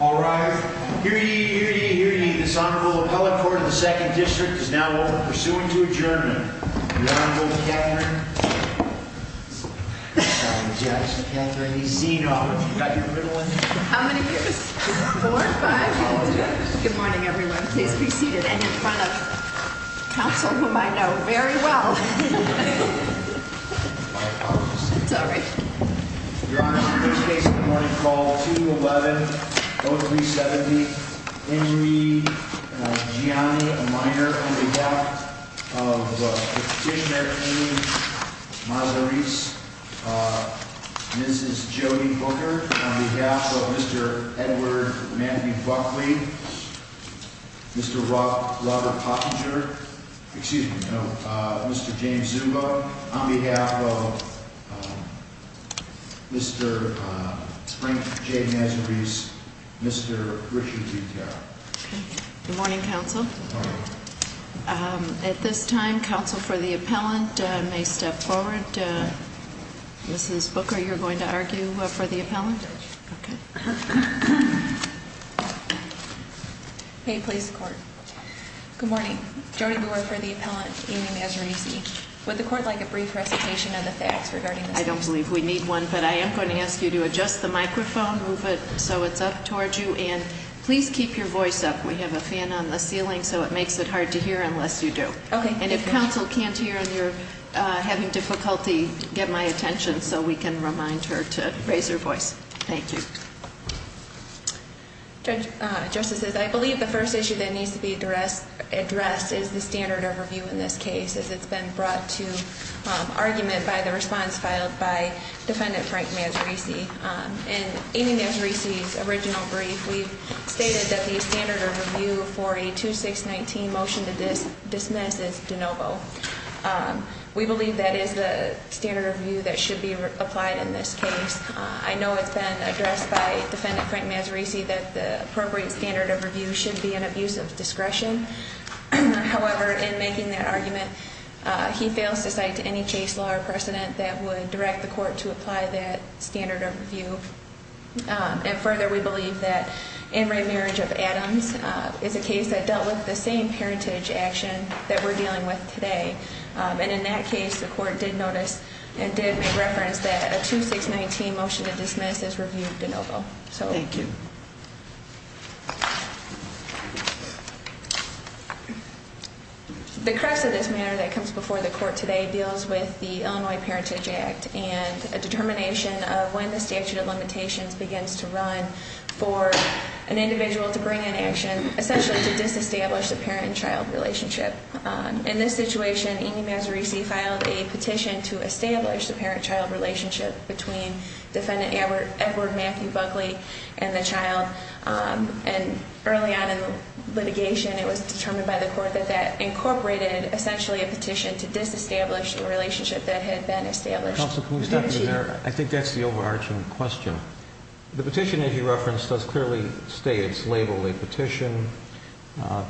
All right, here you hear you hear you. This Honorable Appellate Court of the Second District is now pursuing to adjourn. Good morning, everyone. Please be seated and in front of counsel whom I know very well. Sorry Your Honor, in this case of the morning call 2-11-0370 Henry Gianni Meyer, on behalf of the petitioner, Henry Mazaris Mrs. Jodi Booker, on behalf of Mr. Edward Matthew Buckley Mr. Robert Pottinger, excuse me, no, Mr. James Zubow On behalf of Mr. Frank J. Mazaris, Mr. Rishi D. Tara Good morning, counsel At this time, counsel for the appellant may step forward Mrs. Booker, you're going to argue for the appellant? May it please the court Good morning, Jodi Booker for the appellant, Amy Mazarisi Would the court like a brief recitation of the facts regarding this case? I don't believe we need one, but I am going to ask you to adjust the microphone, move it so it's up towards you And please keep your voice up, we have a fan on the ceiling so it makes it hard to hear unless you do And if counsel can't hear and you're having difficulty get my attention so we can remind her to raise her voice Thank you Judge, justices, I believe the first issue that needs to be addressed is the standard of review in this case As it's been brought to argument by the response filed by defendant Frank Mazarisi In Amy Mazarisi's original brief, we've stated that the standard of review for a 2619 motion to dismiss is de novo We believe that is the standard of view that should be applied in this case I know it's been addressed by defendant Frank Mazarisi that the appropriate standard of review should be an abuse of discretion However, in making that argument, he fails to cite any case law or precedent that would direct the court to apply that standard of review And further, we believe that in re-marriage of Adams is a case that dealt with the same parentage action that we're dealing with today And in that case, the court did notice and did make reference that a 2619 motion to dismiss is reviewed de novo The crux of this matter that comes before the court today deals with the Illinois Parentage Act And a determination of when the statute of limitations begins to run for an individual to bring in action Essentially to disestablish the parent and child relationship In this situation, Amy Mazarisi filed a petition to establish the parent-child relationship between defendant Edward Matthew Buckley and the child And early on in litigation, it was determined by the court that that incorporated essentially a petition to disestablish the relationship that had been established Counsel, can we stop there? I think that's the overarching question The petition that he referenced does clearly state it's labeled a petition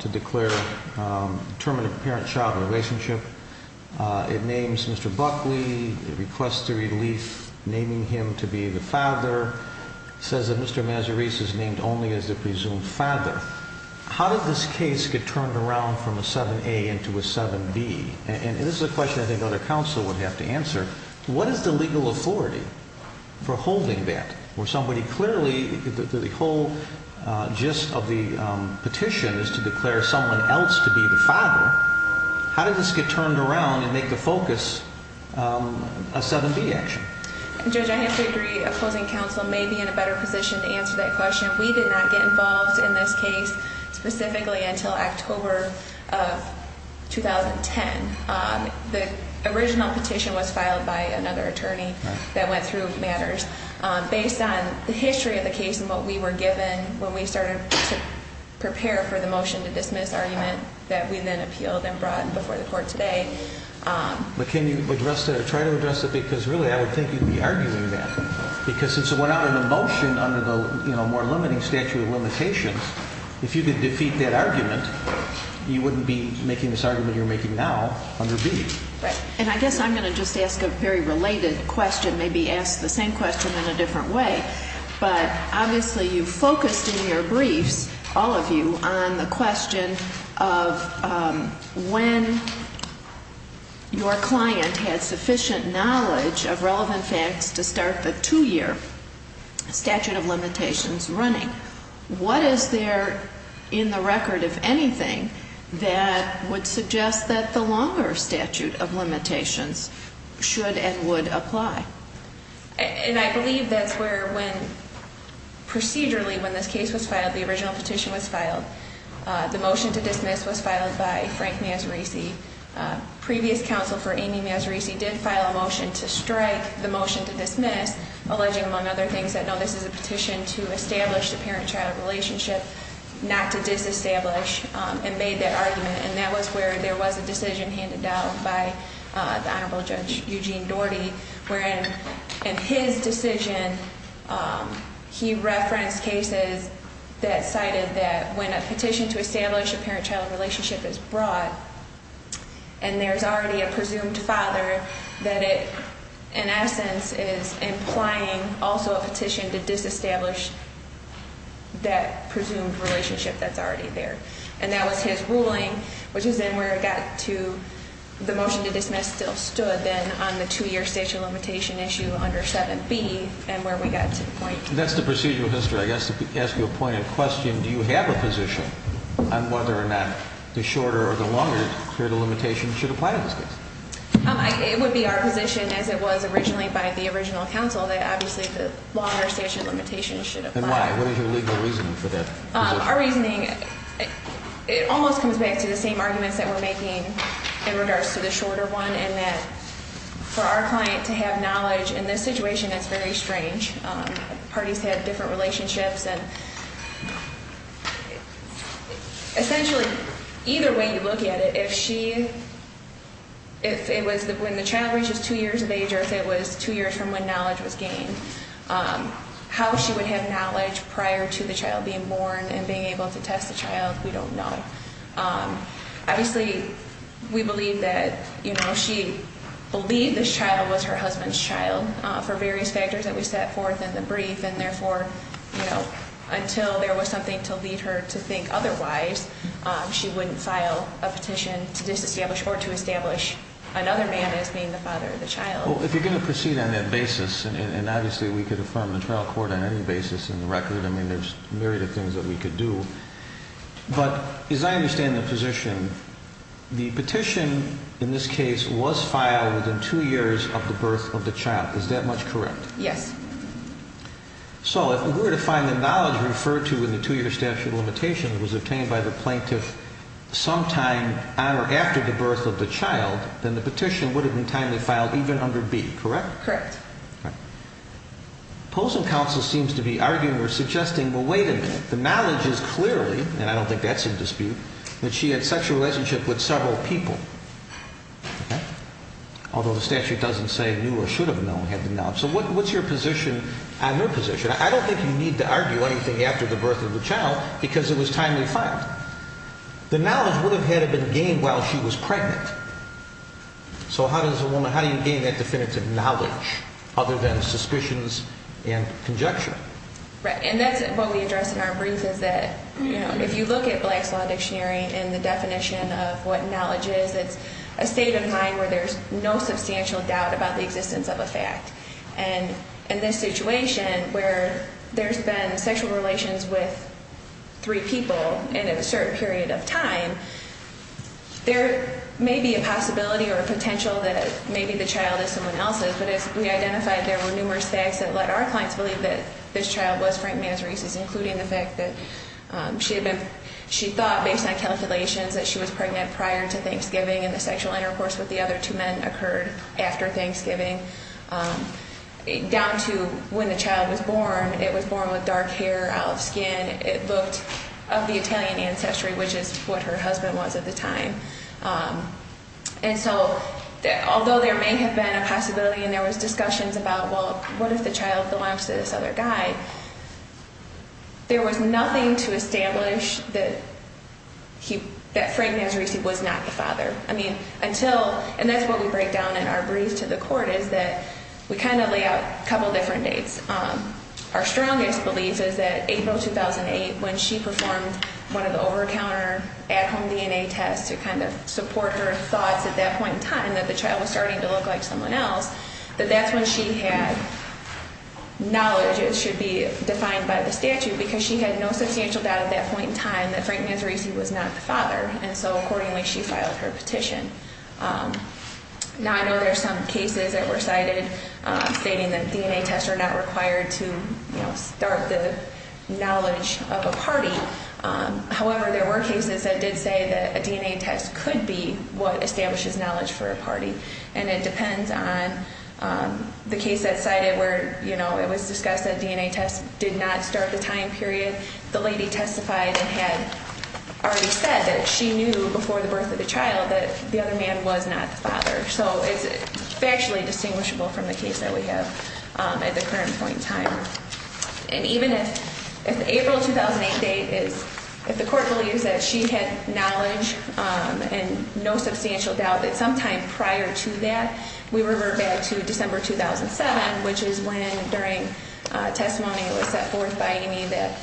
to declare the term of the parent-child relationship It names Mr. Buckley, requests the relief naming him to be the father, says that Mr. Mazarisi is named only as the presumed father How did this case get turned around from a 7A into a 7B? And this is a question I think other counsel would have to answer What is the legal authority for holding that? The whole gist of the petition is to declare someone else to be the father How did this get turned around and make the focus a 7B action? Judge, I have to agree, opposing counsel may be in a better position to answer that question We did not get involved in this case, specifically until October of 2010 The original petition was filed by another attorney that went through matters Based on the history of the case and what we were given when we started to prepare for the motion to dismiss argument that we then appealed and brought before the court today But can you address it or try to address it? Because really I would think you'd be arguing that Because since it went out in a motion under the more limiting statute of limitations, if you could defeat that argument, you wouldn't be making this argument you're making now Under B And I guess I'm going to just ask a very related question, maybe ask the same question in a different way But obviously you focused in your briefs, all of you, on the question of when your client had sufficient knowledge of relevant facts to start the two-year statute of limitations running And what is there in the record, if anything, that would suggest that the longer statute of limitations should and would apply? And I believe that's where when procedurally when this case was filed, the original petition was filed The motion to dismiss was filed by Frank Mazzarisi Previous counsel for Amy Mazzarisi did file a motion to strike the motion to dismiss Alleging, among other things, that no, this is a petition to establish the parent-child relationship, not to disestablish And made that argument, and that was where there was a decision handed down by the Honorable Judge Eugene Doherty Where in his decision, he referenced cases that cited that when a petition to establish a parent-child relationship is brought And there's already a presumed father that it, in essence, is implying also a petition to disestablish that presumed relationship that's already there And that was his ruling, which is then where it got to, the motion to dismiss still stood then on the two-year statute of limitation issue under 7b And where we got to the point Where the statute of limitation should apply in this case? It would be our position, as it was originally by the original counsel, that obviously the longer statute of limitation should apply And why? What is your legal reasoning for that position? Our reasoning, it almost comes back to the same arguments that we're making in regards to the shorter one And that for our client to have knowledge in this situation, that's very strange Parties have different relationships And essentially, either way you look at it, if she, if it was when the child reaches two years of age or if it was two years from when knowledge was gained How she would have knowledge prior to the child being born and being able to test the child, we don't know Obviously, we believe that, you know, she believed this child was her husband's child And so, you know, we had a petition for various factors that we set forth in the brief And therefore, you know, until there was something to lead her to think otherwise She wouldn't file a petition to disestablish or to establish another man as being the father of the child Well, if you're going to proceed on that basis, and obviously we could affirm the trial court on any basis in the record I mean, there's myriad of things that we could do But as I understand the position, the petition in this case was filed within two years of the birth of the child Is that much correct? Yes So, if we were to find the knowledge referred to in the two-year statute of limitations was obtained by the plaintiff sometime on or after the birth of the child Then the petition would have been timely filed even under B, correct? Correct Posen counsel seems to be arguing or suggesting, well, wait a minute, the knowledge is clearly, and I don't think that's in dispute That she had sexual relationship with several people Although the statute doesn't say knew or should have known had the knowledge So what's your position on her position? I don't think you need to argue anything after the birth of the child because it was timely filed The knowledge would have had to have been gained while she was pregnant So how does a woman, how do you gain that definitive knowledge other than suspicions and conjecture? Right, and that's what we address in our brief is that, you know, if you look at Black's Law Dictionary And the definition of what knowledge is, it's a state of mind where there's no substantial doubt about the existence of a fact And in this situation where there's been sexual relations with three people and in a certain period of time There may be a possibility or a potential that maybe the child is someone else's But as we identified there were numerous facts that let our clients believe that this child was Frank Masaryk's Including the fact that she thought based on calculations that she was pregnant prior to Thanksgiving And the sexual intercourse with the other two men occurred after Thanksgiving Down to when the child was born, it was born with dark hair, olive skin It looked of the Italian ancestry which is what her husband was at the time And so although there may have been a possibility and there was discussions about Well, what if the child belongs to this other guy? There was nothing to establish that Frank Masaryk was not the father And that's what we break down in our brief to the court is that we kind of lay out a couple different dates Our strongest belief is that April 2008 when she performed one of the over-the-counter at-home DNA tests To kind of support her thoughts at that point in time that the child was starting to look like someone else That that's when she had knowledge that should be defined by the statute Because she had no substantial doubt at that point in time that Frank Masaryk was not the father And so accordingly she filed her petition Now I know there are some cases that were cited stating that DNA tests are not required to start the knowledge of a party However, there were cases that did say that a DNA test could be what establishes knowledge for a party And it depends on the case that cited where, you know, it was discussed that DNA tests did not start the time period The lady testified and had already said that she knew before the birth of the child that the other man was not the father So it's factually distinguishable from the case that we have at the current point in time And even if April 2008 date is if the court believes that she had knowledge and no substantial doubt That sometime prior to that we revert back to December 2007 Which is when during testimony it was set forth by Amy that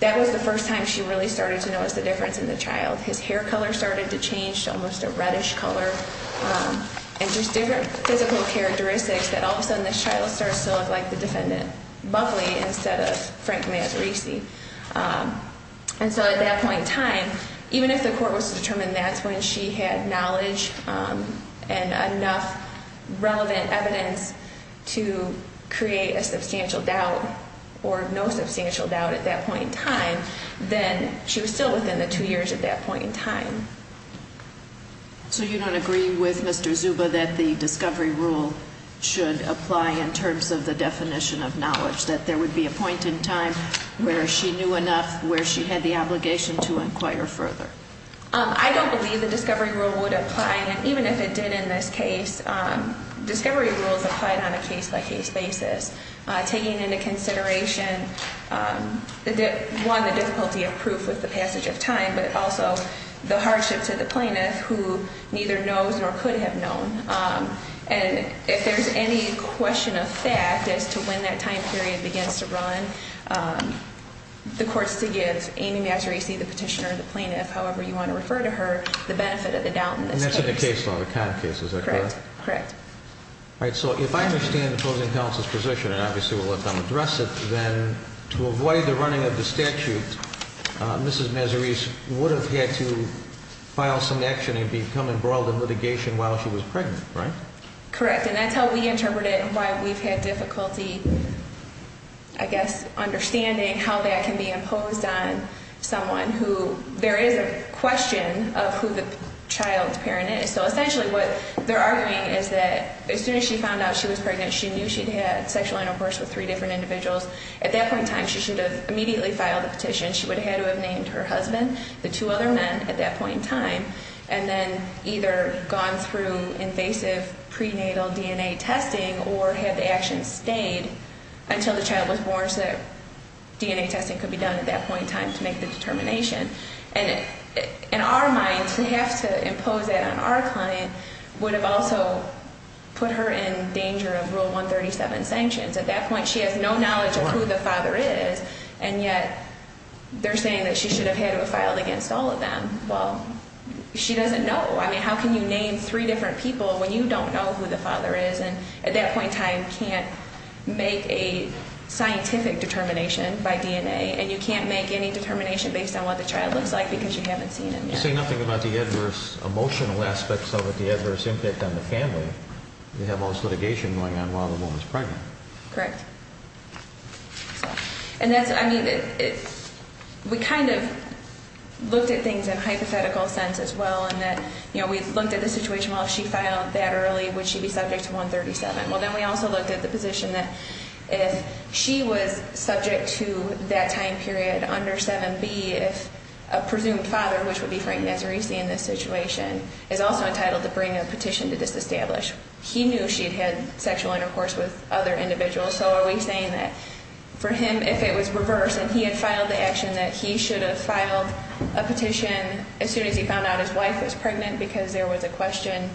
that was the first time she really started to notice the difference in the child His hair color started to change to almost a reddish color And just different physical characteristics that all of a sudden this child starts to look like the defendant Buckley instead of Frank Masaryk And so at that point in time, even if the court was to determine that's when she had knowledge and enough relevant evidence To create a substantial doubt or no substantial doubt at that point in time Then she was still within the two years at that point in time So you don't agree with Mr. Zuba that the discovery rule should apply in terms of the definition of knowledge That there would be a point in time where she knew enough where she had the obligation to inquire further I don't believe the discovery rule would apply and even if it did in this case Discovery rules applied on a case by case basis Taking into consideration one the difficulty of proof with the passage of time But also the hardship to the plaintiff who neither knows nor could have known And if there's any question of fact as to when that time period begins to run The court's to give Amy Masaryk, the petitioner, the plaintiff, however you want to refer to her The benefit of the doubt in this case And that's in the case law, the Conn case, is that correct? Correct All right, so if I understand the opposing counsel's position, and obviously we'll let them address it Then to avoid the running of the statute, Mrs. Masaryk would have had to file some action And become embroiled in litigation while she was pregnant, right? Correct, and that's how we interpret it and why we've had difficulty I guess understanding how that can be imposed on someone who There is a question of who the child's parent is So essentially what they're arguing is that as soon as she found out she was pregnant She knew she'd had sexual intercourse with three different individuals At that point in time she should have immediately filed a petition She would have had to have named her husband, the two other men at that point in time And then either gone through invasive prenatal DNA testing Or had the action stayed until the child was born So that DNA testing could be done at that point in time to make the determination And in our minds to have to impose that on our client Would have also put her in danger of Rule 137 sanctions At that point she has no knowledge of who the father is And yet they're saying that she should have had to have filed against all of them Well, she doesn't know How can you name three different people when you don't know who the father is And at that point in time can't make a scientific determination by DNA And you can't make any determination based on what the child looks like Because you haven't seen him yet You say nothing about the adverse emotional aspects of it The adverse impact on the family You have all this litigation going on while the woman's pregnant Correct And that's, I mean, we kind of looked at things in a hypothetical sense as well And that, you know, we looked at the situation Well, if she filed that early, would she be subject to 137? Well, then we also looked at the position that If she was subject to that time period under 7B If a presumed father, which would be Frank Nazarici in this situation Is also entitled to bring a petition to disestablish He knew she had had sexual intercourse with other individuals And that for him, if it was reversed And he had filed the action that he should have filed a petition As soon as he found out his wife was pregnant Because there was a question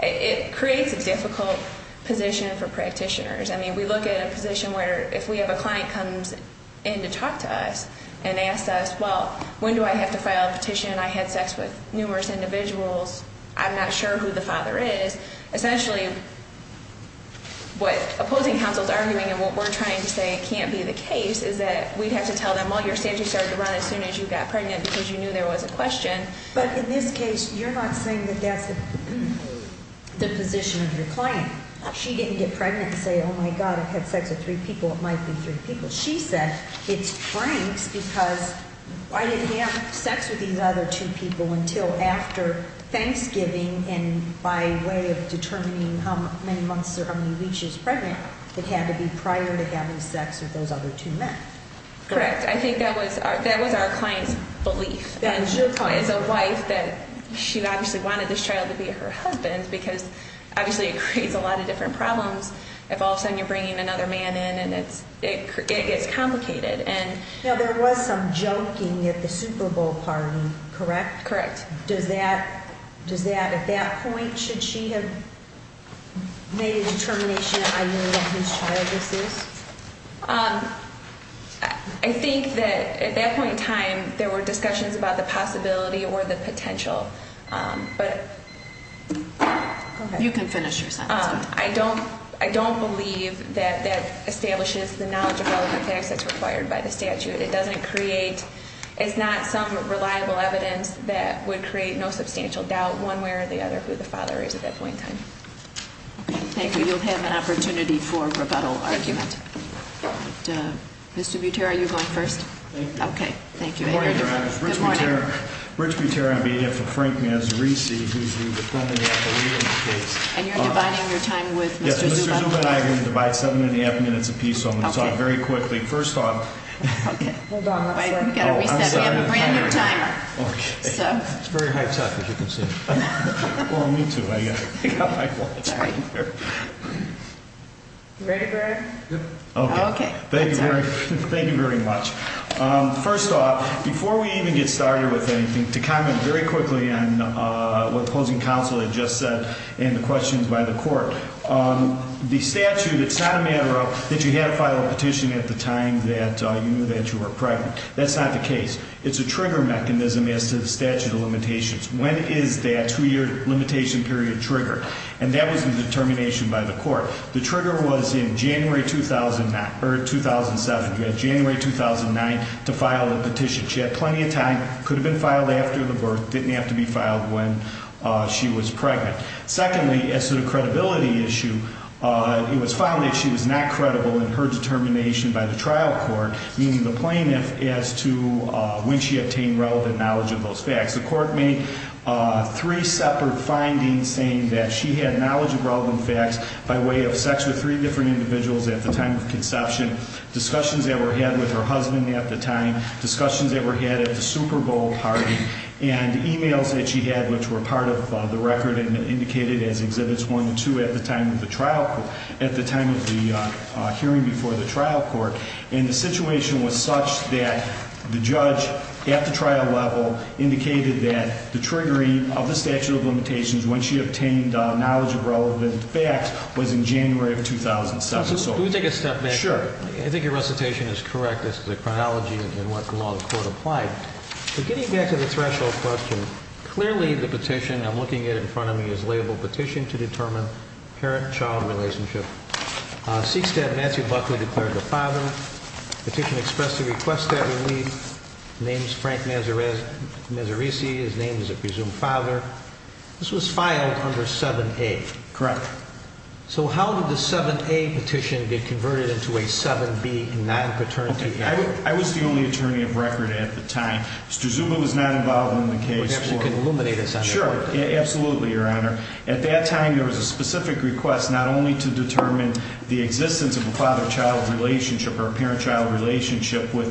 It creates a difficult position for practitioners I mean, we look at a position where if we have a client comes in to talk to us And asks us, well, when do I have to file a petition? I had sex with numerous individuals I'm not sure who the father is Essentially, what opposing counsel is arguing And what we're trying to say it can't be the case Is that we have to tell them, well, your statute started to run As soon as you got pregnant because you knew there was a question But in this case, you're not saying that that's the position of your client She didn't get pregnant and say, oh, my God I've had sex with three people, it might be three people She said, it's Frank's because I didn't have sex With these other two people until after Thanksgiving And by way of determining how many months Or how many weeks she was pregnant It had to be prior to having sex with those other two men Correct, I think that was our client's belief As a wife, she obviously wanted this child to be her husband Because obviously it creates a lot of different problems If all of a sudden you're bringing another man in And it gets complicated Correct Does that, at that point, should she have made a determination I know what his child is? I think that at that point in time There were discussions about the possibility or the potential But... You can finish your sentence I don't believe that that establishes the knowledge Of relevant facts that's required by the statute It doesn't create, it's not some reliable evidence That would create no substantial doubt One way or the other who the father is at that point in time Thank you, you'll have an opportunity for rebuttal argument Mr. Buter, are you going first? Thank you Good morning, your honor Rich Buter on behalf of Frank Mazzarisi Who's the defendant at the reading of the case And you're dividing your time with Mr. Zuba? Yes, Mr. Zuba and I are going to divide seven and a half minutes apiece So I'm going to talk very quickly First off Hold on, I'm sorry It's very high tech as you can see Well, me too I got my watch on You ready, Greg? Yep Okay, thank you very much First off, before we even get started with anything To comment very quickly on what the opposing counsel had just said And the questions by the court The statute, it's not a matter of That you had to file a petition at the time That you knew that you were pregnant That's not the case It's a trigger mechanism As to the statute of limitations When is that two-year limitation period triggered? And that was the determination by the court The trigger was in January 2007 January 2009 To file a petition She had plenty of time Could have been filed after the birth Didn't have to be filed when she was pregnant Secondly, as to the credibility issue It was found that she was not credible In her determination by the trial court Meaning the plaintiff As to when she obtained Relevant knowledge of those facts The court made three separate findings Saying that she had knowledge Of relevant facts By way of sex with three different individuals At the time of conception Discussions that were had with her husband at the time Discussions that were had at the Super Bowl party And emails that she had Which were part of the record And indicated as Exhibits 1 and 2 At the time of the trial At the time of the hearing before the trial court And the situation was such That the judge At the trial level Indicated that the triggering Of the statute of limitations When she obtained knowledge of relevant facts Was in January of 2007 Can we take a step back here? Sure I think your recitation is correct As to the chronology and what law the court applied But getting back to the threshold question Clearly the petition I'm looking at in front of me Is labeled petition to determine Parent-child relationship With a father His name is Frank Mazzarisi His name is a presumed father This was filed under 7A Correct So how did the 7A petition Get converted into a 7B Non-paternity petition? I was the only attorney of record at the time Mr. Zuma was not involved in the case You can illuminate us on that Sure, absolutely your honor At that time there was a specific request Not only to determine The existence of a father-child relationship With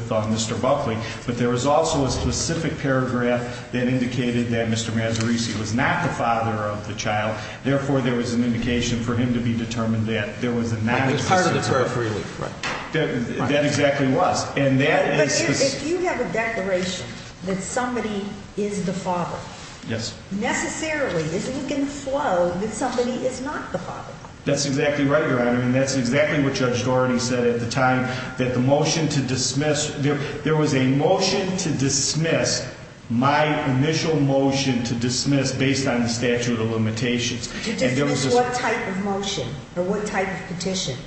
Mr. Buckley But there was also a specific paragraph That indicated that Mr. Mazzarisi Was not the father of the child Therefore there was an indication For him to be determined That there was a non-existent That exactly was But if you have a declaration That somebody is the father Yes Necessarily isn't it going to flow That somebody is not the father? That's exactly right your honor And that's exactly what Judge Doherty Said There was a motion to dismiss My initial motion to dismiss Based on the statute of limitations To dismiss what type of motion? Or what type of petition?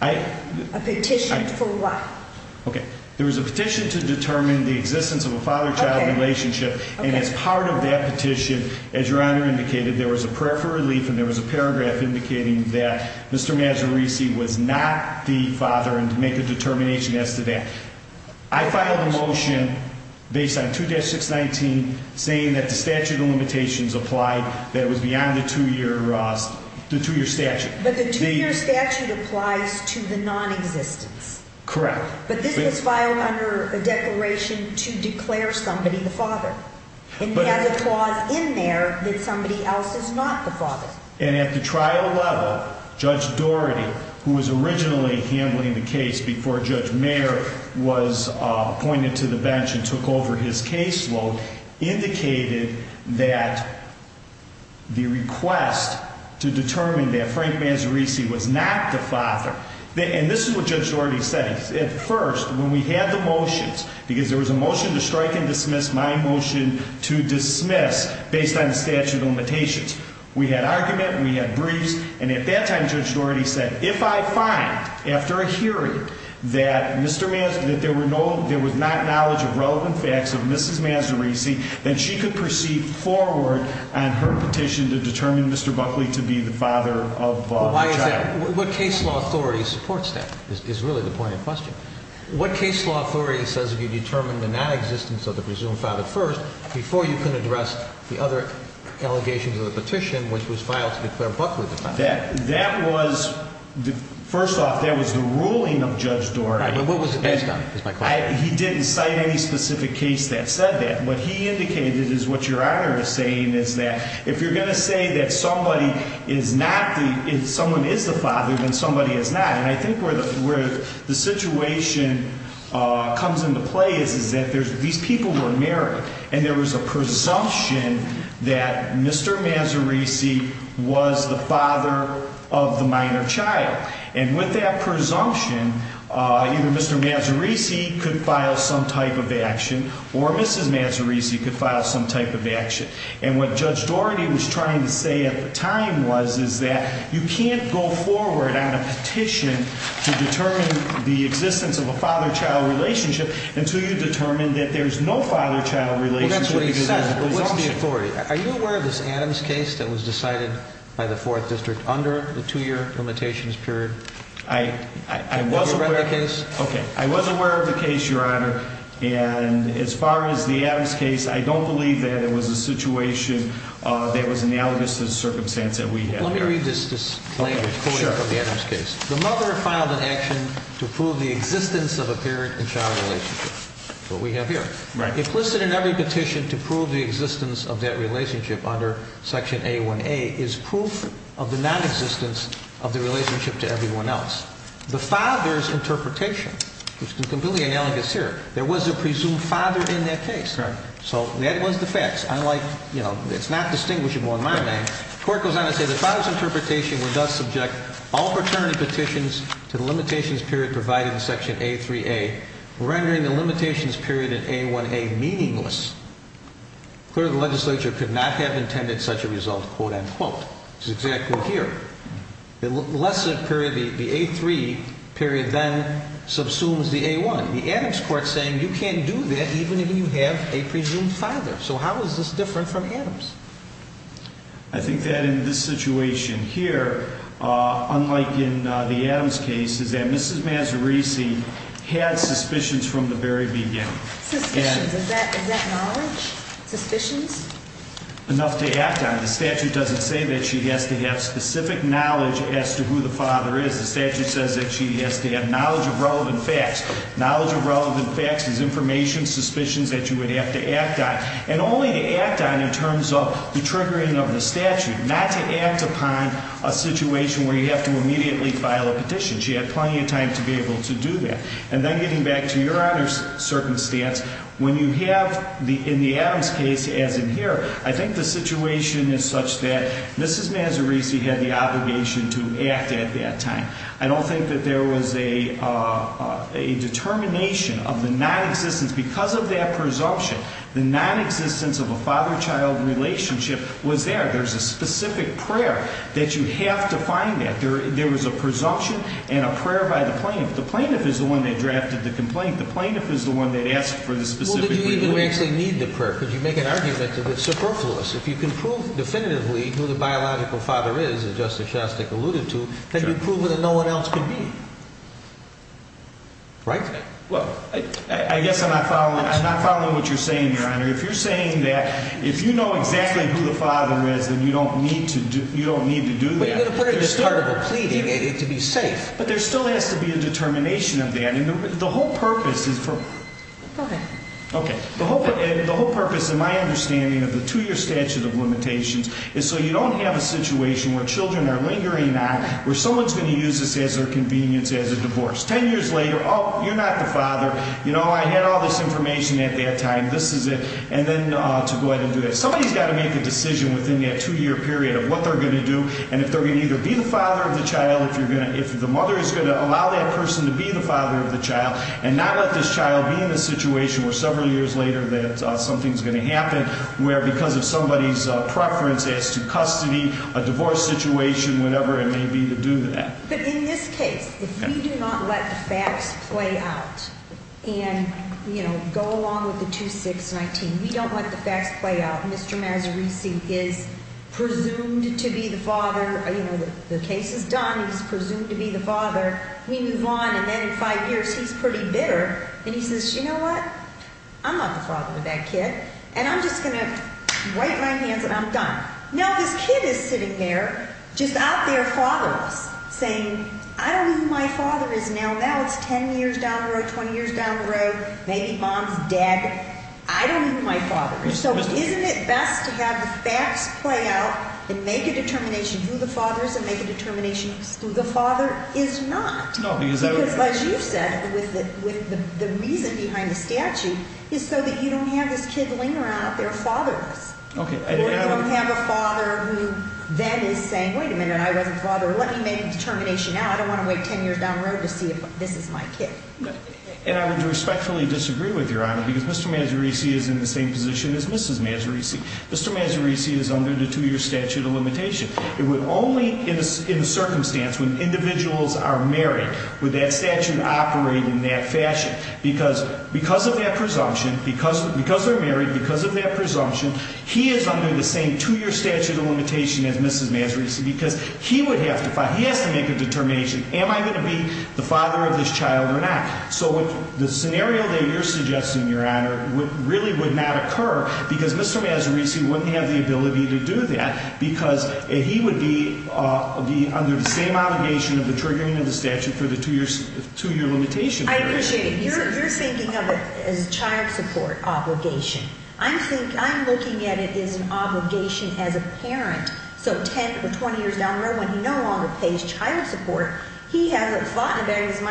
I A petition for what? There was a petition to determine The existence of a father-child relationship And as part of that petition As your honor indicated There was a prayer for relief And there was a paragraph indicating That Mr. Mazzarisi was not the father I filed a motion Based on 2-619 Saying that the statute of limitations Applied that it was beyond The two year statute But the two year statute Applies to the non-existence Correct But this was filed under a declaration To declare somebody the father And it has a clause in there That somebody else is not the father And at the trial level Judge Doherty Who was originally handling the case Pointed to the bench And took over his caseload Indicated that The request To determine that Frank Mazzarisi Was not the father And this is what Judge Doherty said At first when we had the motions Because there was a motion to strike and dismiss My motion to dismiss Based on the statute of limitations We had argument We had briefs And at that time Judge Doherty said If I find after a hearing That there was not knowledge Of relevant facts of Mrs. Mazzarisi Then she could proceed forward On her petition To determine Mr. Buckley To be the father of the child Why is that? What case law authority supports that Is really the point of question What case law authority says If you determine the non-existence Of the presumed father first Before you can address The other allegations of the petition Which was filed to declare Buckley The father of the minor child He didn't cite any specific case That said that What he indicated is what Your Honor is saying Is that if you're going to say That someone is the father Then somebody is not And I think where the situation Comes into play Is that these people were married And there was a presumption That Mr. Mazzarisi Was the father of the minor child And with that presumption You could file some type of action Or Mrs. Mazzarisi Could file some type of action And what Judge Daugherty Was trying to say at the time Was that you can't go forward On a petition To determine the existence Of a father-child relationship Until you determine That there's no father-child relationship Well that's what he said But what's the authority? Are you aware of this Adams case That was decided by the 4th District And as far as the Adams case I don't believe that it was a situation That was analogous To the circumstance that we have here Let me read this language Quoting from the Adams case The mother filed an action To prove the existence Of a parent-child relationship Implicit in every petition To prove the existence Of that relationship Under Section A1A Is proof of the nonexistence Of the relationship to everyone else There was a presumed father In that case So that was the facts It's not distinguishable in my mind The court goes on to say The father's interpretation Would thus subject all paternity petitions To the limitations period Provided in Section A3A Rendering the limitations period In A1A meaningless Clearly the legislature Could not have intended Such a result quote unquote Which is exactly here Saying you can't do that Even if you have a presumed father So how is this different from Adams? I think that in this situation Here Unlike in the Adams case Is that Mrs. Mazzarisi Had suspicions from the very beginning Suspicions Is that knowledge? Suspicions? Enough to act on The statute doesn't say That she has to have specific knowledge As to who the father is The facts, his information Suspicions that you would have to act on And only to act on In terms of the triggering of the statute Not to act upon A situation where you have to Immediately file a petition She had plenty of time to be able to do that And then getting back to Your Honor's circumstance When you have in the Adams case As in here I think the situation is such that Mrs. Mazzarisi had the obligation To act at that time And the non-existence Because of that presumption The non-existence of a father-child relationship Was there There's a specific prayer That you have to find that There was a presumption And a prayer by the plaintiff The plaintiff is the one That drafted the complaint The plaintiff is the one That asked for the specific prayer Well did you even actually need the prayer Because you make an argument that it's superfluous If you can prove definitively Well I guess I'm not following I'm not following what you're saying Your Honor If you're saying that If you know exactly who the father is Then you don't need to do that But you're going to put it At the start of a plea to be safe But there still has to be a determination of that And the whole purpose is for Go ahead The whole purpose in my understanding Of the two-year statute of limitations Is so you don't have a situation Where children are lingering on Where someone's going to use this To get all this information at that time This is it And then to go ahead and do that Somebody's got to make a decision Within that two-year period Of what they're going to do And if they're going to either be the father of the child If the mother is going to allow that person To be the father of the child And not let this child be in a situation Where several years later That something's going to happen Where because of somebody's preference As to custody, a divorce situation Whatever it may be to do that You know, go along with the 2-6-19 We don't let the facts play out Mr. Mazzarisi is presumed to be the father You know, the case is done He's presumed to be the father We move on and then in five years He's pretty bitter And he says, you know what? I'm not the father of that kid And I'm just going to wipe my hands And I'm done Now this kid is sitting there Just out there fatherless Saying, I don't know who my father is now It's 10 years down the road 20 years down the road Maybe mom's dead I don't know who my father is So isn't it best to have the facts play out And make a determination Who the father is and make a determination Who the father is not Because as you said With the reason behind the statute Is so that you don't have this kid Leaning around out there fatherless Or you don't have a father Who then is saying, wait a minute I wasn't the father This is my kid And I would respectfully disagree with your honor Because Mr. Mazzarisi is in the same position As Mrs. Mazzarisi Mr. Mazzarisi is under The two year statute of limitation It would only in a circumstance When individuals are married Would that statute operate in that fashion Because of that presumption Because they're married Because of that presumption He is under the same two year statute of limitation As Mrs. Mazzarisi Because he would have to find If he could have this child or not So the scenario that you're suggesting Your honor Really would not occur Because Mr. Mazzarisi Wouldn't have the ability to do that Because he would be Under the same obligation Of the triggering of the statute For the two year limitation I appreciate it You're thinking of it As child support obligation I'm looking at it as an obligation As a parent Because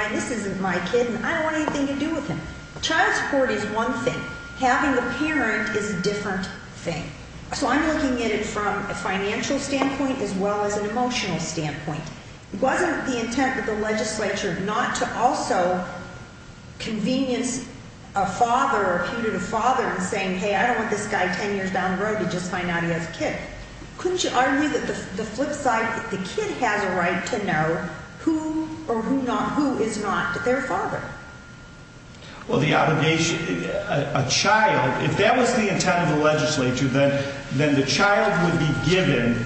this isn't my kid And I don't want anything to do with him Child support is one thing Having a parent is a different thing So I'm looking at it From a financial standpoint As well as an emotional standpoint Wasn't the intent of the legislature Not to also Convenience a father Or put it to father And say hey I don't want this guy Ten years down the road To just find out he has a kid Couldn't you argue that the flip side Was not their father Well the obligation A child If that was the intent of the legislature Then the child would be given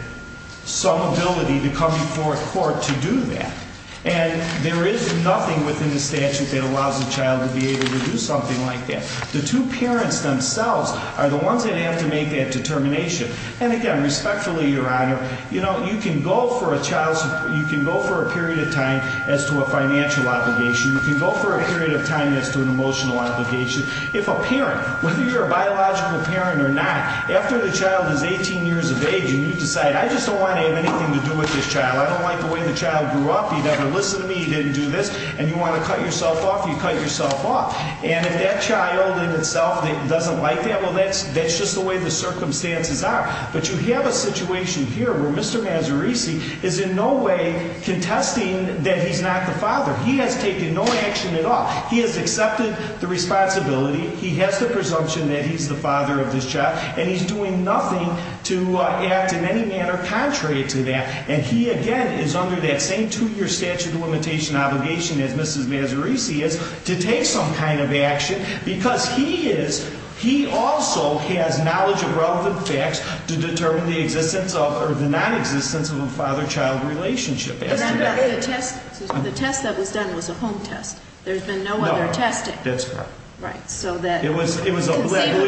Some ability to come before a court To do that And there is nothing within the statute That allows a child to be able To do something like that The two parents themselves Are the ones that have to make that determination And again respectfully your honor You know you can go for a child You can go for a period of time As to an emotional obligation If a parent Whether you're a biological parent or not After the child is 18 years of age And you decide I just don't want To have anything to do with this child I don't like the way the child grew up He never listened to me He didn't do this And you want to cut yourself off You cut yourself off And if that child in itself Doesn't like that Well that's just the way the circumstances are But you have a situation here Where there is no action at all He has accepted the responsibility He has the presumption That he's the father of this child And he's doing nothing to act In any manner contrary to that And he again is under that same Two year statute of limitation obligation As Mrs. Mazzarisi is To take some kind of action Because he is He also has knowledge of relevant facts To determine the existence of Or the nonexistence of a father-child relationship And under the test The test that was done was a home test There's been no other testing Right, so that I believe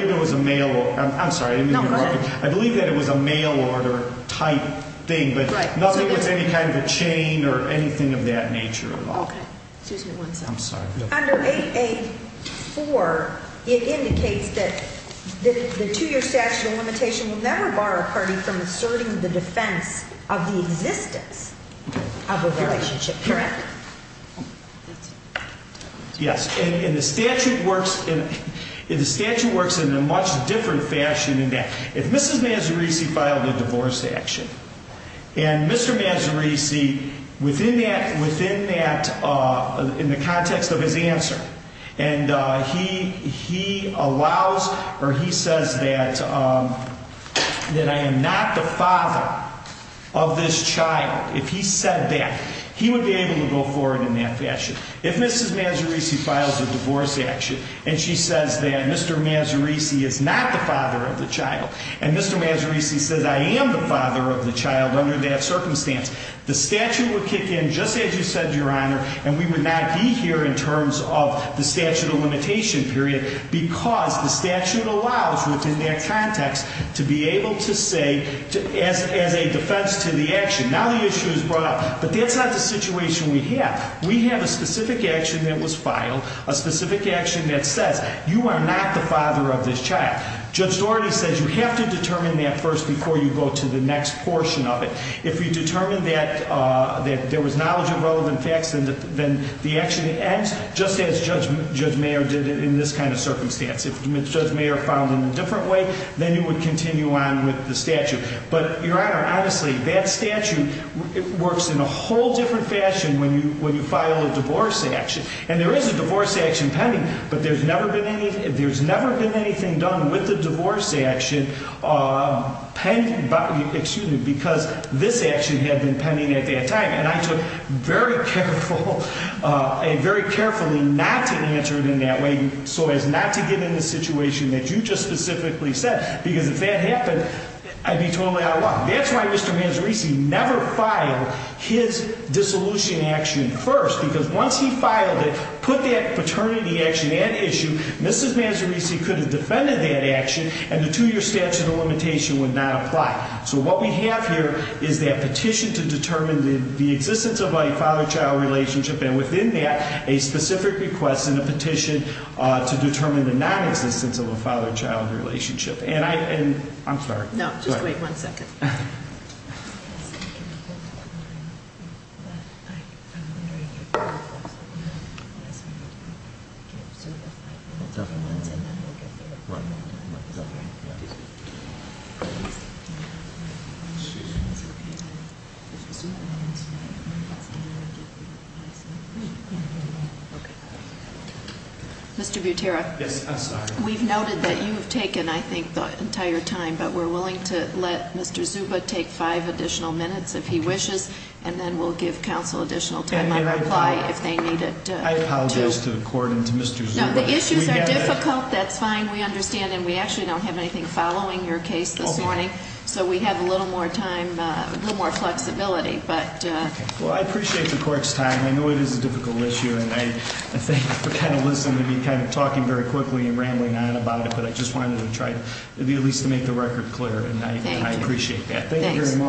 it was a mail order I'm sorry, I didn't mean to interrupt you I believe that it was a mail order type thing But nothing with any kind of a chain Or anything of that nature at all Okay, excuse me one second Under 8A4 It indicates that The two year statute of limitation Will never bar a party From asserting the defense Of a relationship Correct Yes, and the statute works And the statute works In a much different fashion In that if Mrs. Mazzarisi Filed a divorce action And Mr. Mazzarisi Within that In the context of his answer And he He allows Or he says that That I am not the father Of this child But that He would be able to go forward In that fashion If Mrs. Mazzarisi files a divorce action And she says that Mr. Mazzarisi Is not the father of the child And Mr. Mazzarisi says I am the father of the child Under that circumstance The statute would kick in Just as you said your honor And we would not be here In terms of the statute of limitation period Because the statute allows Within that context But that's not the situation we have We have a specific action That was filed A specific action that says You are not the father of this child Judge Daugherty says You have to determine that first Before you go to the next portion of it If you determine that There was knowledge of relevant facts Then the action ends Just as Judge Mayer did In this kind of circumstance If Judge Mayer filed in a different way Then you would continue on In a whole different fashion When you file a divorce action And there is a divorce action pending But there's never been anything There's never been anything done With a divorce action Because this action Had been pending at that time And I took very careful Very carefully Not to answer it in that way So as not to get in the situation That you just specifically said Because if that happened I'd be totally out of luck I would have taken This dissolution action first Because once he filed it Put that paternity action at issue Mrs. Mazzarisi could have defended that action And the two-year statute of limitation Would not apply So what we have here Is that petition to determine The existence of a father-child relationship And within that A specific request and a petition To determine the non-existence Of a father-child relationship And I'm sorry But I'm very careful So I'm going to give Zuba five minutes And then we'll get there Right, right, got it Mr. Butera Yes, I'm sorry We've noted that you've taken I think the entire time But we're willing to let Mr. Zuba Take five additional minutes If he wishes And then we'll give counsel Additional time on reply If they need it I apologize to the court And to Mr. Zuba No, the issues are difficult That's fine, we understand And we actually don't have anything Following your case this morning So we have a little more time A little more flexibility Well, I appreciate the court's time I know it is a difficult issue Thank you very much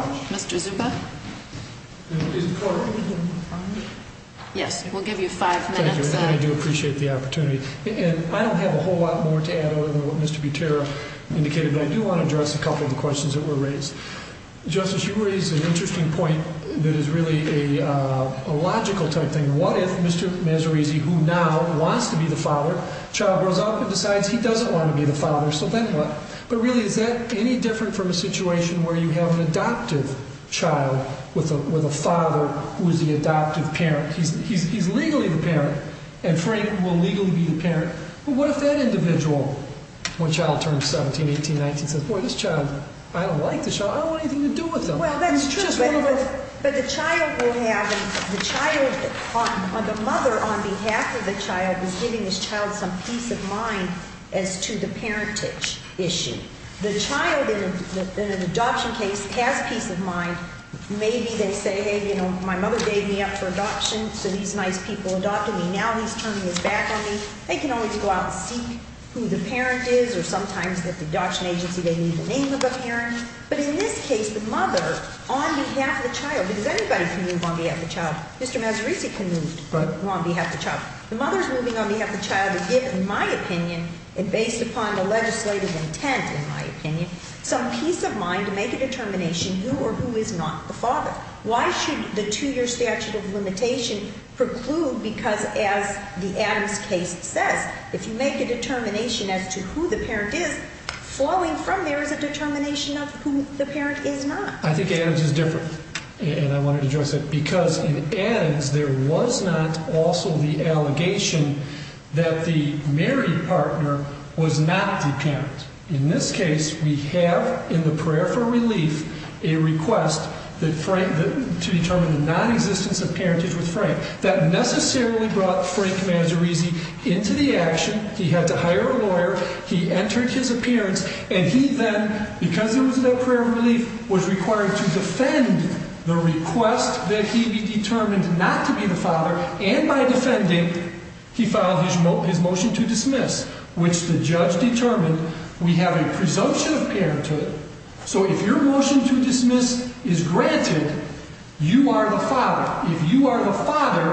Mr. Zuba Yes, we'll give you five minutes Thank you And I do appreciate the opportunity And I don't have a whole lot more to add Other than what Mr. Butera indicated But I do want to address a couple Of the questions that were raised Justice, you raised an interesting point That is really a logical type thing What if Mr. Mazzarisi Who now wants to be the father Child grows up and decides He doesn't want to be the father He wants to be the adoptive child With a father who is the adoptive parent He's legally the parent And Frank will legally be the parent But what if that individual When the child turns 17, 18, 19 Says, boy, this child I don't like this child I don't want anything to do with them Well, that's true But the child will have The mother on behalf of the child Is giving his child some peace of mind As to the parentage issue The child in an adoption case Has peace of mind Maybe they say, hey, you know My mother gave me up for adoption So these nice people adopted me Now he's turning his back on me They can always go out and seek Who the parent is Or sometimes at the adoption agency They need the name of the parent But in this case, the mother On behalf of the child Because everybody can move on behalf of the child Mr. Mazzarisi can move on behalf of the child The mother is moving on behalf of the child To give, in my opinion A determination who or who is not the father Why should the two-year statute of limitation Preclude because as the Adams case says If you make a determination As to who the parent is Flowing from there is a determination Of who the parent is not I think Adams is different And I want to address it Because in Adams, there was not Also the allegation That the married partner Was not the parent In this case, we have A request To determine the non-existence Of parentage with Frank That necessarily brought Frank Mazzarisi into the action He had to hire a lawyer He entered his appearance And he then, because it was a prayer of relief Was required to defend The request that he be determined Not to be the father And by defending He filed his motion to dismiss Which the judge determined We have a presumption of parenthood If dismiss is granted You are the father If you are the father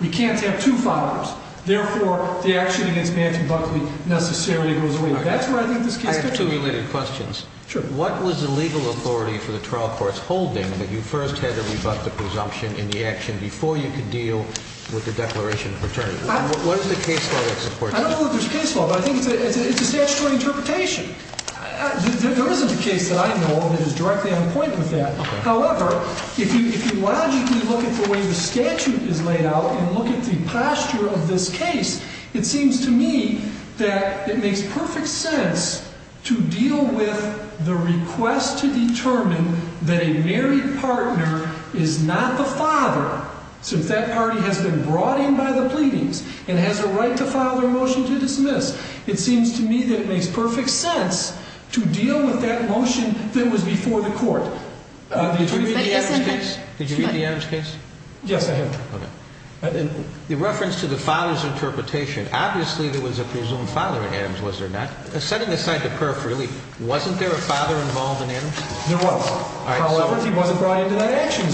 We can't have two fathers Therefore, the action against Nancy Buckley necessarily goes away That's where I think this case I have two related questions Sure What was the legal authority For the trial courts holding That you first had to rebut The presumption in the action Before you could deal With the declaration of paternity What is the case law that supports that I don't know if there's case law But I think it's a statutory interpretation There isn't a case that I know That is directly on point with that However, if you logically look At the way the statute is laid out And look at the posture of this case It seems to me That it makes perfect sense To deal with the request To determine That a married partner Is not the father Since that party has been brought in And has a right to file Their motion to dismiss It seems to me that it makes perfect sense To deal with that motion That was before the court Did you read the Adams case Yes, I have The reference to the father's interpretation Obviously, there was a presumed father At Adams, was there not Setting aside the perf, really Wasn't there a father involved in Adams There was, however He wasn't brought into that action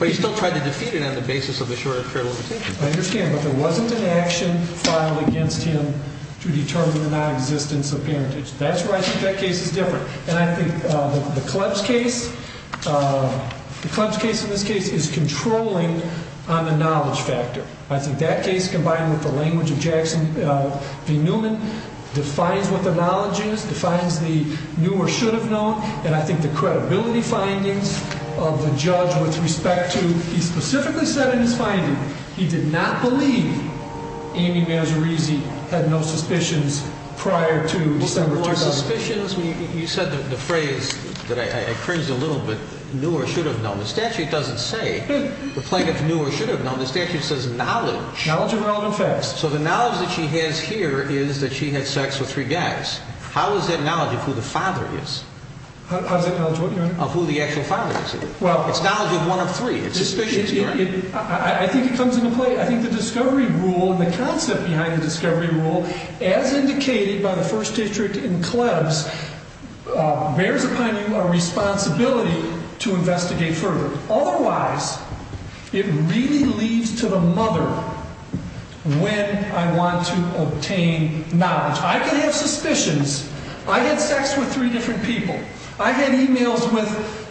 But he still tried to defeat it So there wasn't an action Filed against him To determine the non-existence of parentage That's where I think that case is different And I think the Klebs case The Klebs case in this case Is controlling on the knowledge factor I think that case combined With the language of Jackson v. Newman Defines what the knowledge is Defines the new or should have known And I think the credibility findings Of the judge with respect to He specifically said in his finding He did not believe Amy Mazzarisi had no suspicions Prior to December 2000 No more suspicions You said the phrase That I cringed a little bit New or should have known The statute doesn't say The plaintiff knew or should have known The statute says knowledge Knowledge of relevant facts So the knowledge that she has here Is that she had sex with three guys How is that knowledge of who the father is How is that knowledge of what, your honor I think it comes into play I think the discovery rule The concept behind the discovery rule As indicated by the first district in Klebs Bears upon you a responsibility To investigate further Otherwise It really leads to the mother When I want to obtain knowledge I can have suspicions I had sex with three different people I had emails with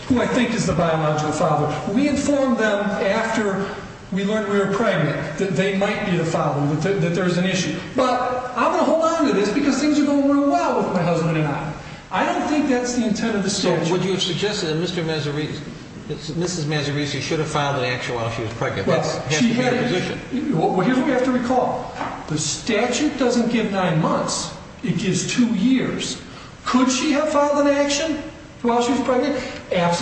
Who I think is the biological father We inform them after They're pregnant That they might be the father That there's an issue But I'm going to hold on to this Because things are going well With my husband and I I don't think that's the intent of the statute Would you suggest that Mrs. Mazzarisi Should have filed an action While she was pregnant Here's what we have to recall The statute doesn't give nine months It gives two years Could she have filed an action While she was pregnant She's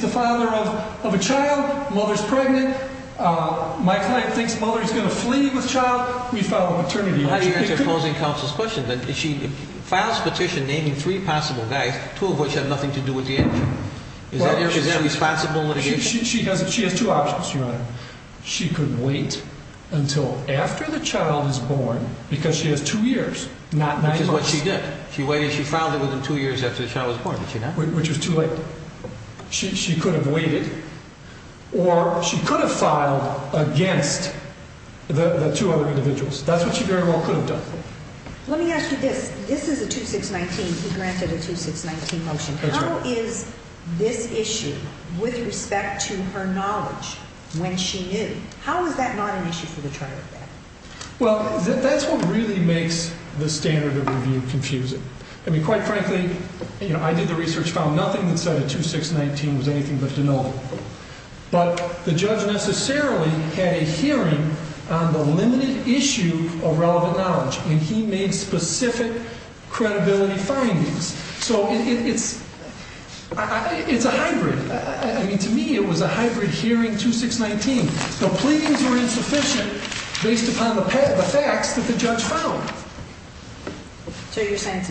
the father of a child Mother's pregnant My client thinks the mother Is going to flee with child We file a maternity How do you answer opposing counsel's questions If she files a petition Naming three possible guys Two of which have nothing to do with the action Is that responsible litigation She has two options She could wait until after the child is born Because she has two years Not nine months Which is what she did Or she could have filed Against the two other individuals That's what she very well Could have done Let me ask you this This is a 2619 He granted a 2619 motion How is this issue With respect to her knowledge When she knew How is that not an issue Well that's what really makes The standard of review confusing I mean quite frankly I did the research And I found That the judge Had a hearing On the limited issue Of relevant knowledge And he made specific Credibility findings So it's It's a hybrid I mean to me It was a hybrid hearing 2619 The pleadings were insufficient Based upon the facts That the judge found So you're saying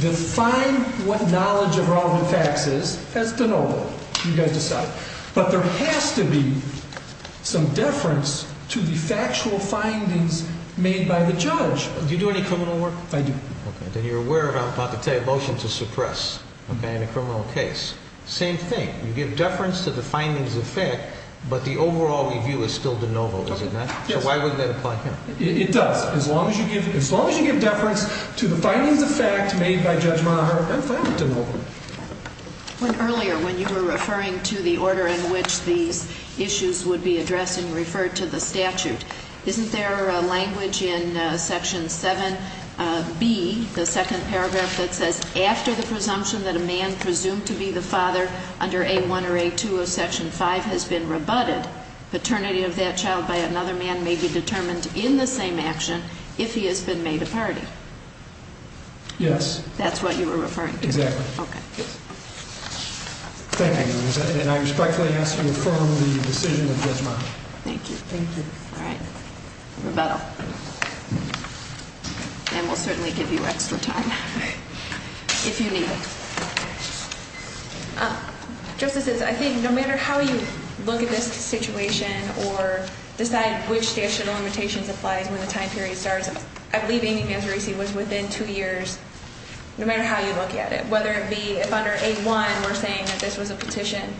Define what knowledge Of relevant facts is As de novo You guys decide But there has to be Some deference To the factual findings Made by the judge Do you do any criminal work I do Then you're aware of I'm about to tell you A motion to suppress In a criminal case Same thing If I'm de novo When earlier When you were referring To the order in which These issues would be addressed And referred to the statute Isn't there a language In section 7b The second paragraph That says after the presumption That a man presumed to be the father Under a1 or a2 of section 5 Has been rebutted Paternity of that child By another man Is that what you're referring to Exactly Thank you And I respectfully ask To affirm the decision of Judge Meyer Thank you Rebuttal And we'll certainly give you Extra time If you need it Justices I think no matter how You look at this situation Or decide which statute Of limitations applies You need to really look at it Whether it be If under a1 we're saying That this was a petition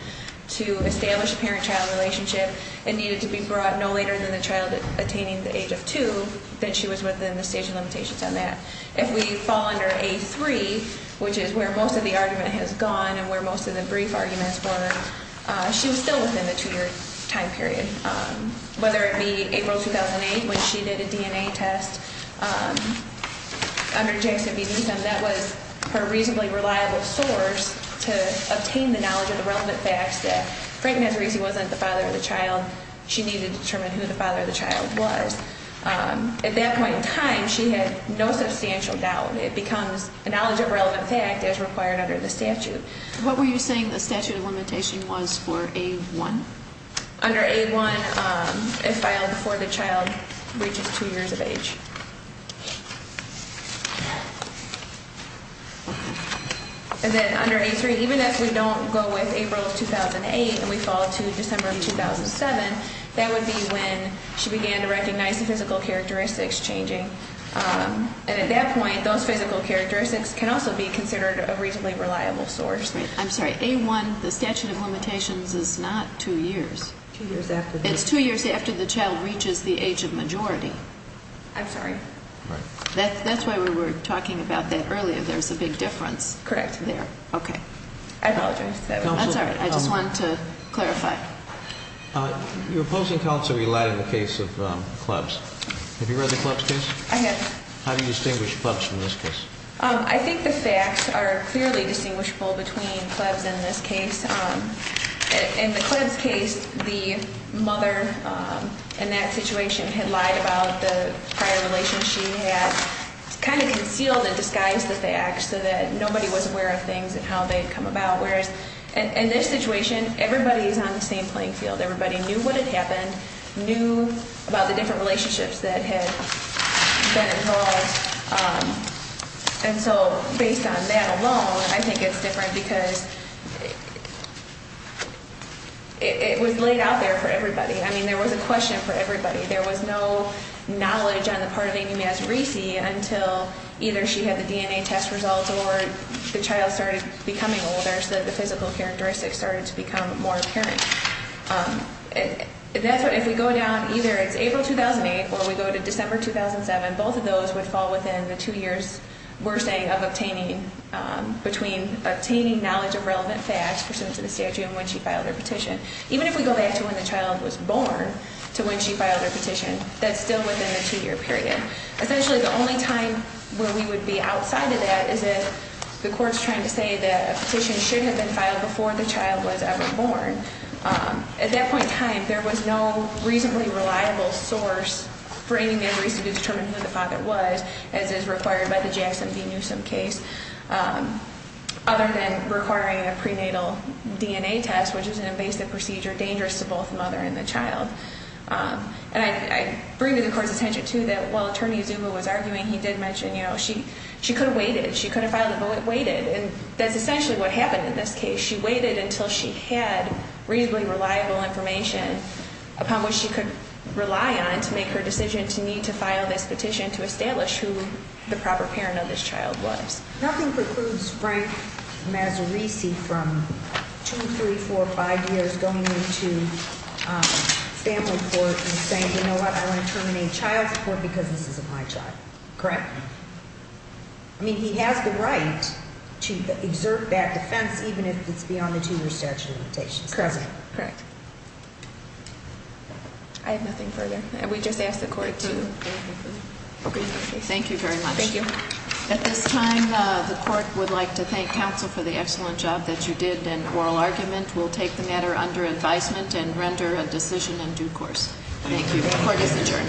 To establish a parent-child relationship And needed to be brought No later than the child Attaining the age of 2 Then she was within The stage of limitations on that If we fall under a3 Which is where most Of the argument has gone And where most of the brief Arguments were It was a reasonably Reliable source To obtain the knowledge Of the relevant facts That Frank Nazarese Wasn't the father of the child She needed to determine Who the father of the child was At that point in time She had no substantial doubt It becomes a knowledge Of relevant fact As required under the statute What were you saying The statute of limitation And then under a3 Even if we don't go with April of 2008 And we fall to December of 2007 That would be when She began to recognize The physical characteristics changing And at that point Those physical characteristics Can also be considered A reasonably reliable source I'm sorry, a1 The statute of limitations Is not 2 years It's 2 years after the child Was born That's correct I apologize That's all right I just wanted to clarify Your opposing counsel Relied on the case of Clebs, have you read The Clebs case How do you distinguish Clebs from this case I think the facts Are clearly distinguishable Between Clebs and this case In the Clebs case Somebody was aware of things And how they had come about Whereas in this situation Everybody is on the same playing field Everybody knew what had happened Knew about the different Relationships that had been involved And so based on that alone I think it's different Because It was laid out there For everybody I mean there was a question For everybody There was no knowledge And so The child started becoming older So the physical characteristics Started to become more apparent If we go down Either it's April 2008 Or we go to December 2007 Both of those would fall Within the 2 years We're saying of obtaining Between obtaining knowledge Of relevant facts Pursuant to the statute And when she filed her petition Even if we go back to The court's trying to say That a petition should have been filed Before the child was ever born At that point in time There was no reasonably Reliable source For anybody to determine Who the father was As is required by the Jackson v. Newsom case Other than requiring A prenatal DNA test Which is an invasive procedure Dangerous to both the mother And the child So she waited And that's essentially What happened in this case She waited until she had Reasonably reliable information Upon which she could rely on To make her decision To need to file this petition To establish who the proper Parent of this child was Nothing precludes Frank Mazzarisi from 2, 3, 4, 5 years Going into family court And saying you know what I want to terminate child support To exert that defense Even if it's beyond The 2 year statute of limitations Correct I have nothing further We just ask the court to Thank you very much At this time the court Would like to thank counsel For the excellent job that you did And oral argument We'll take the matter under advisement And render a decision in due course Thank you, the court is adjourned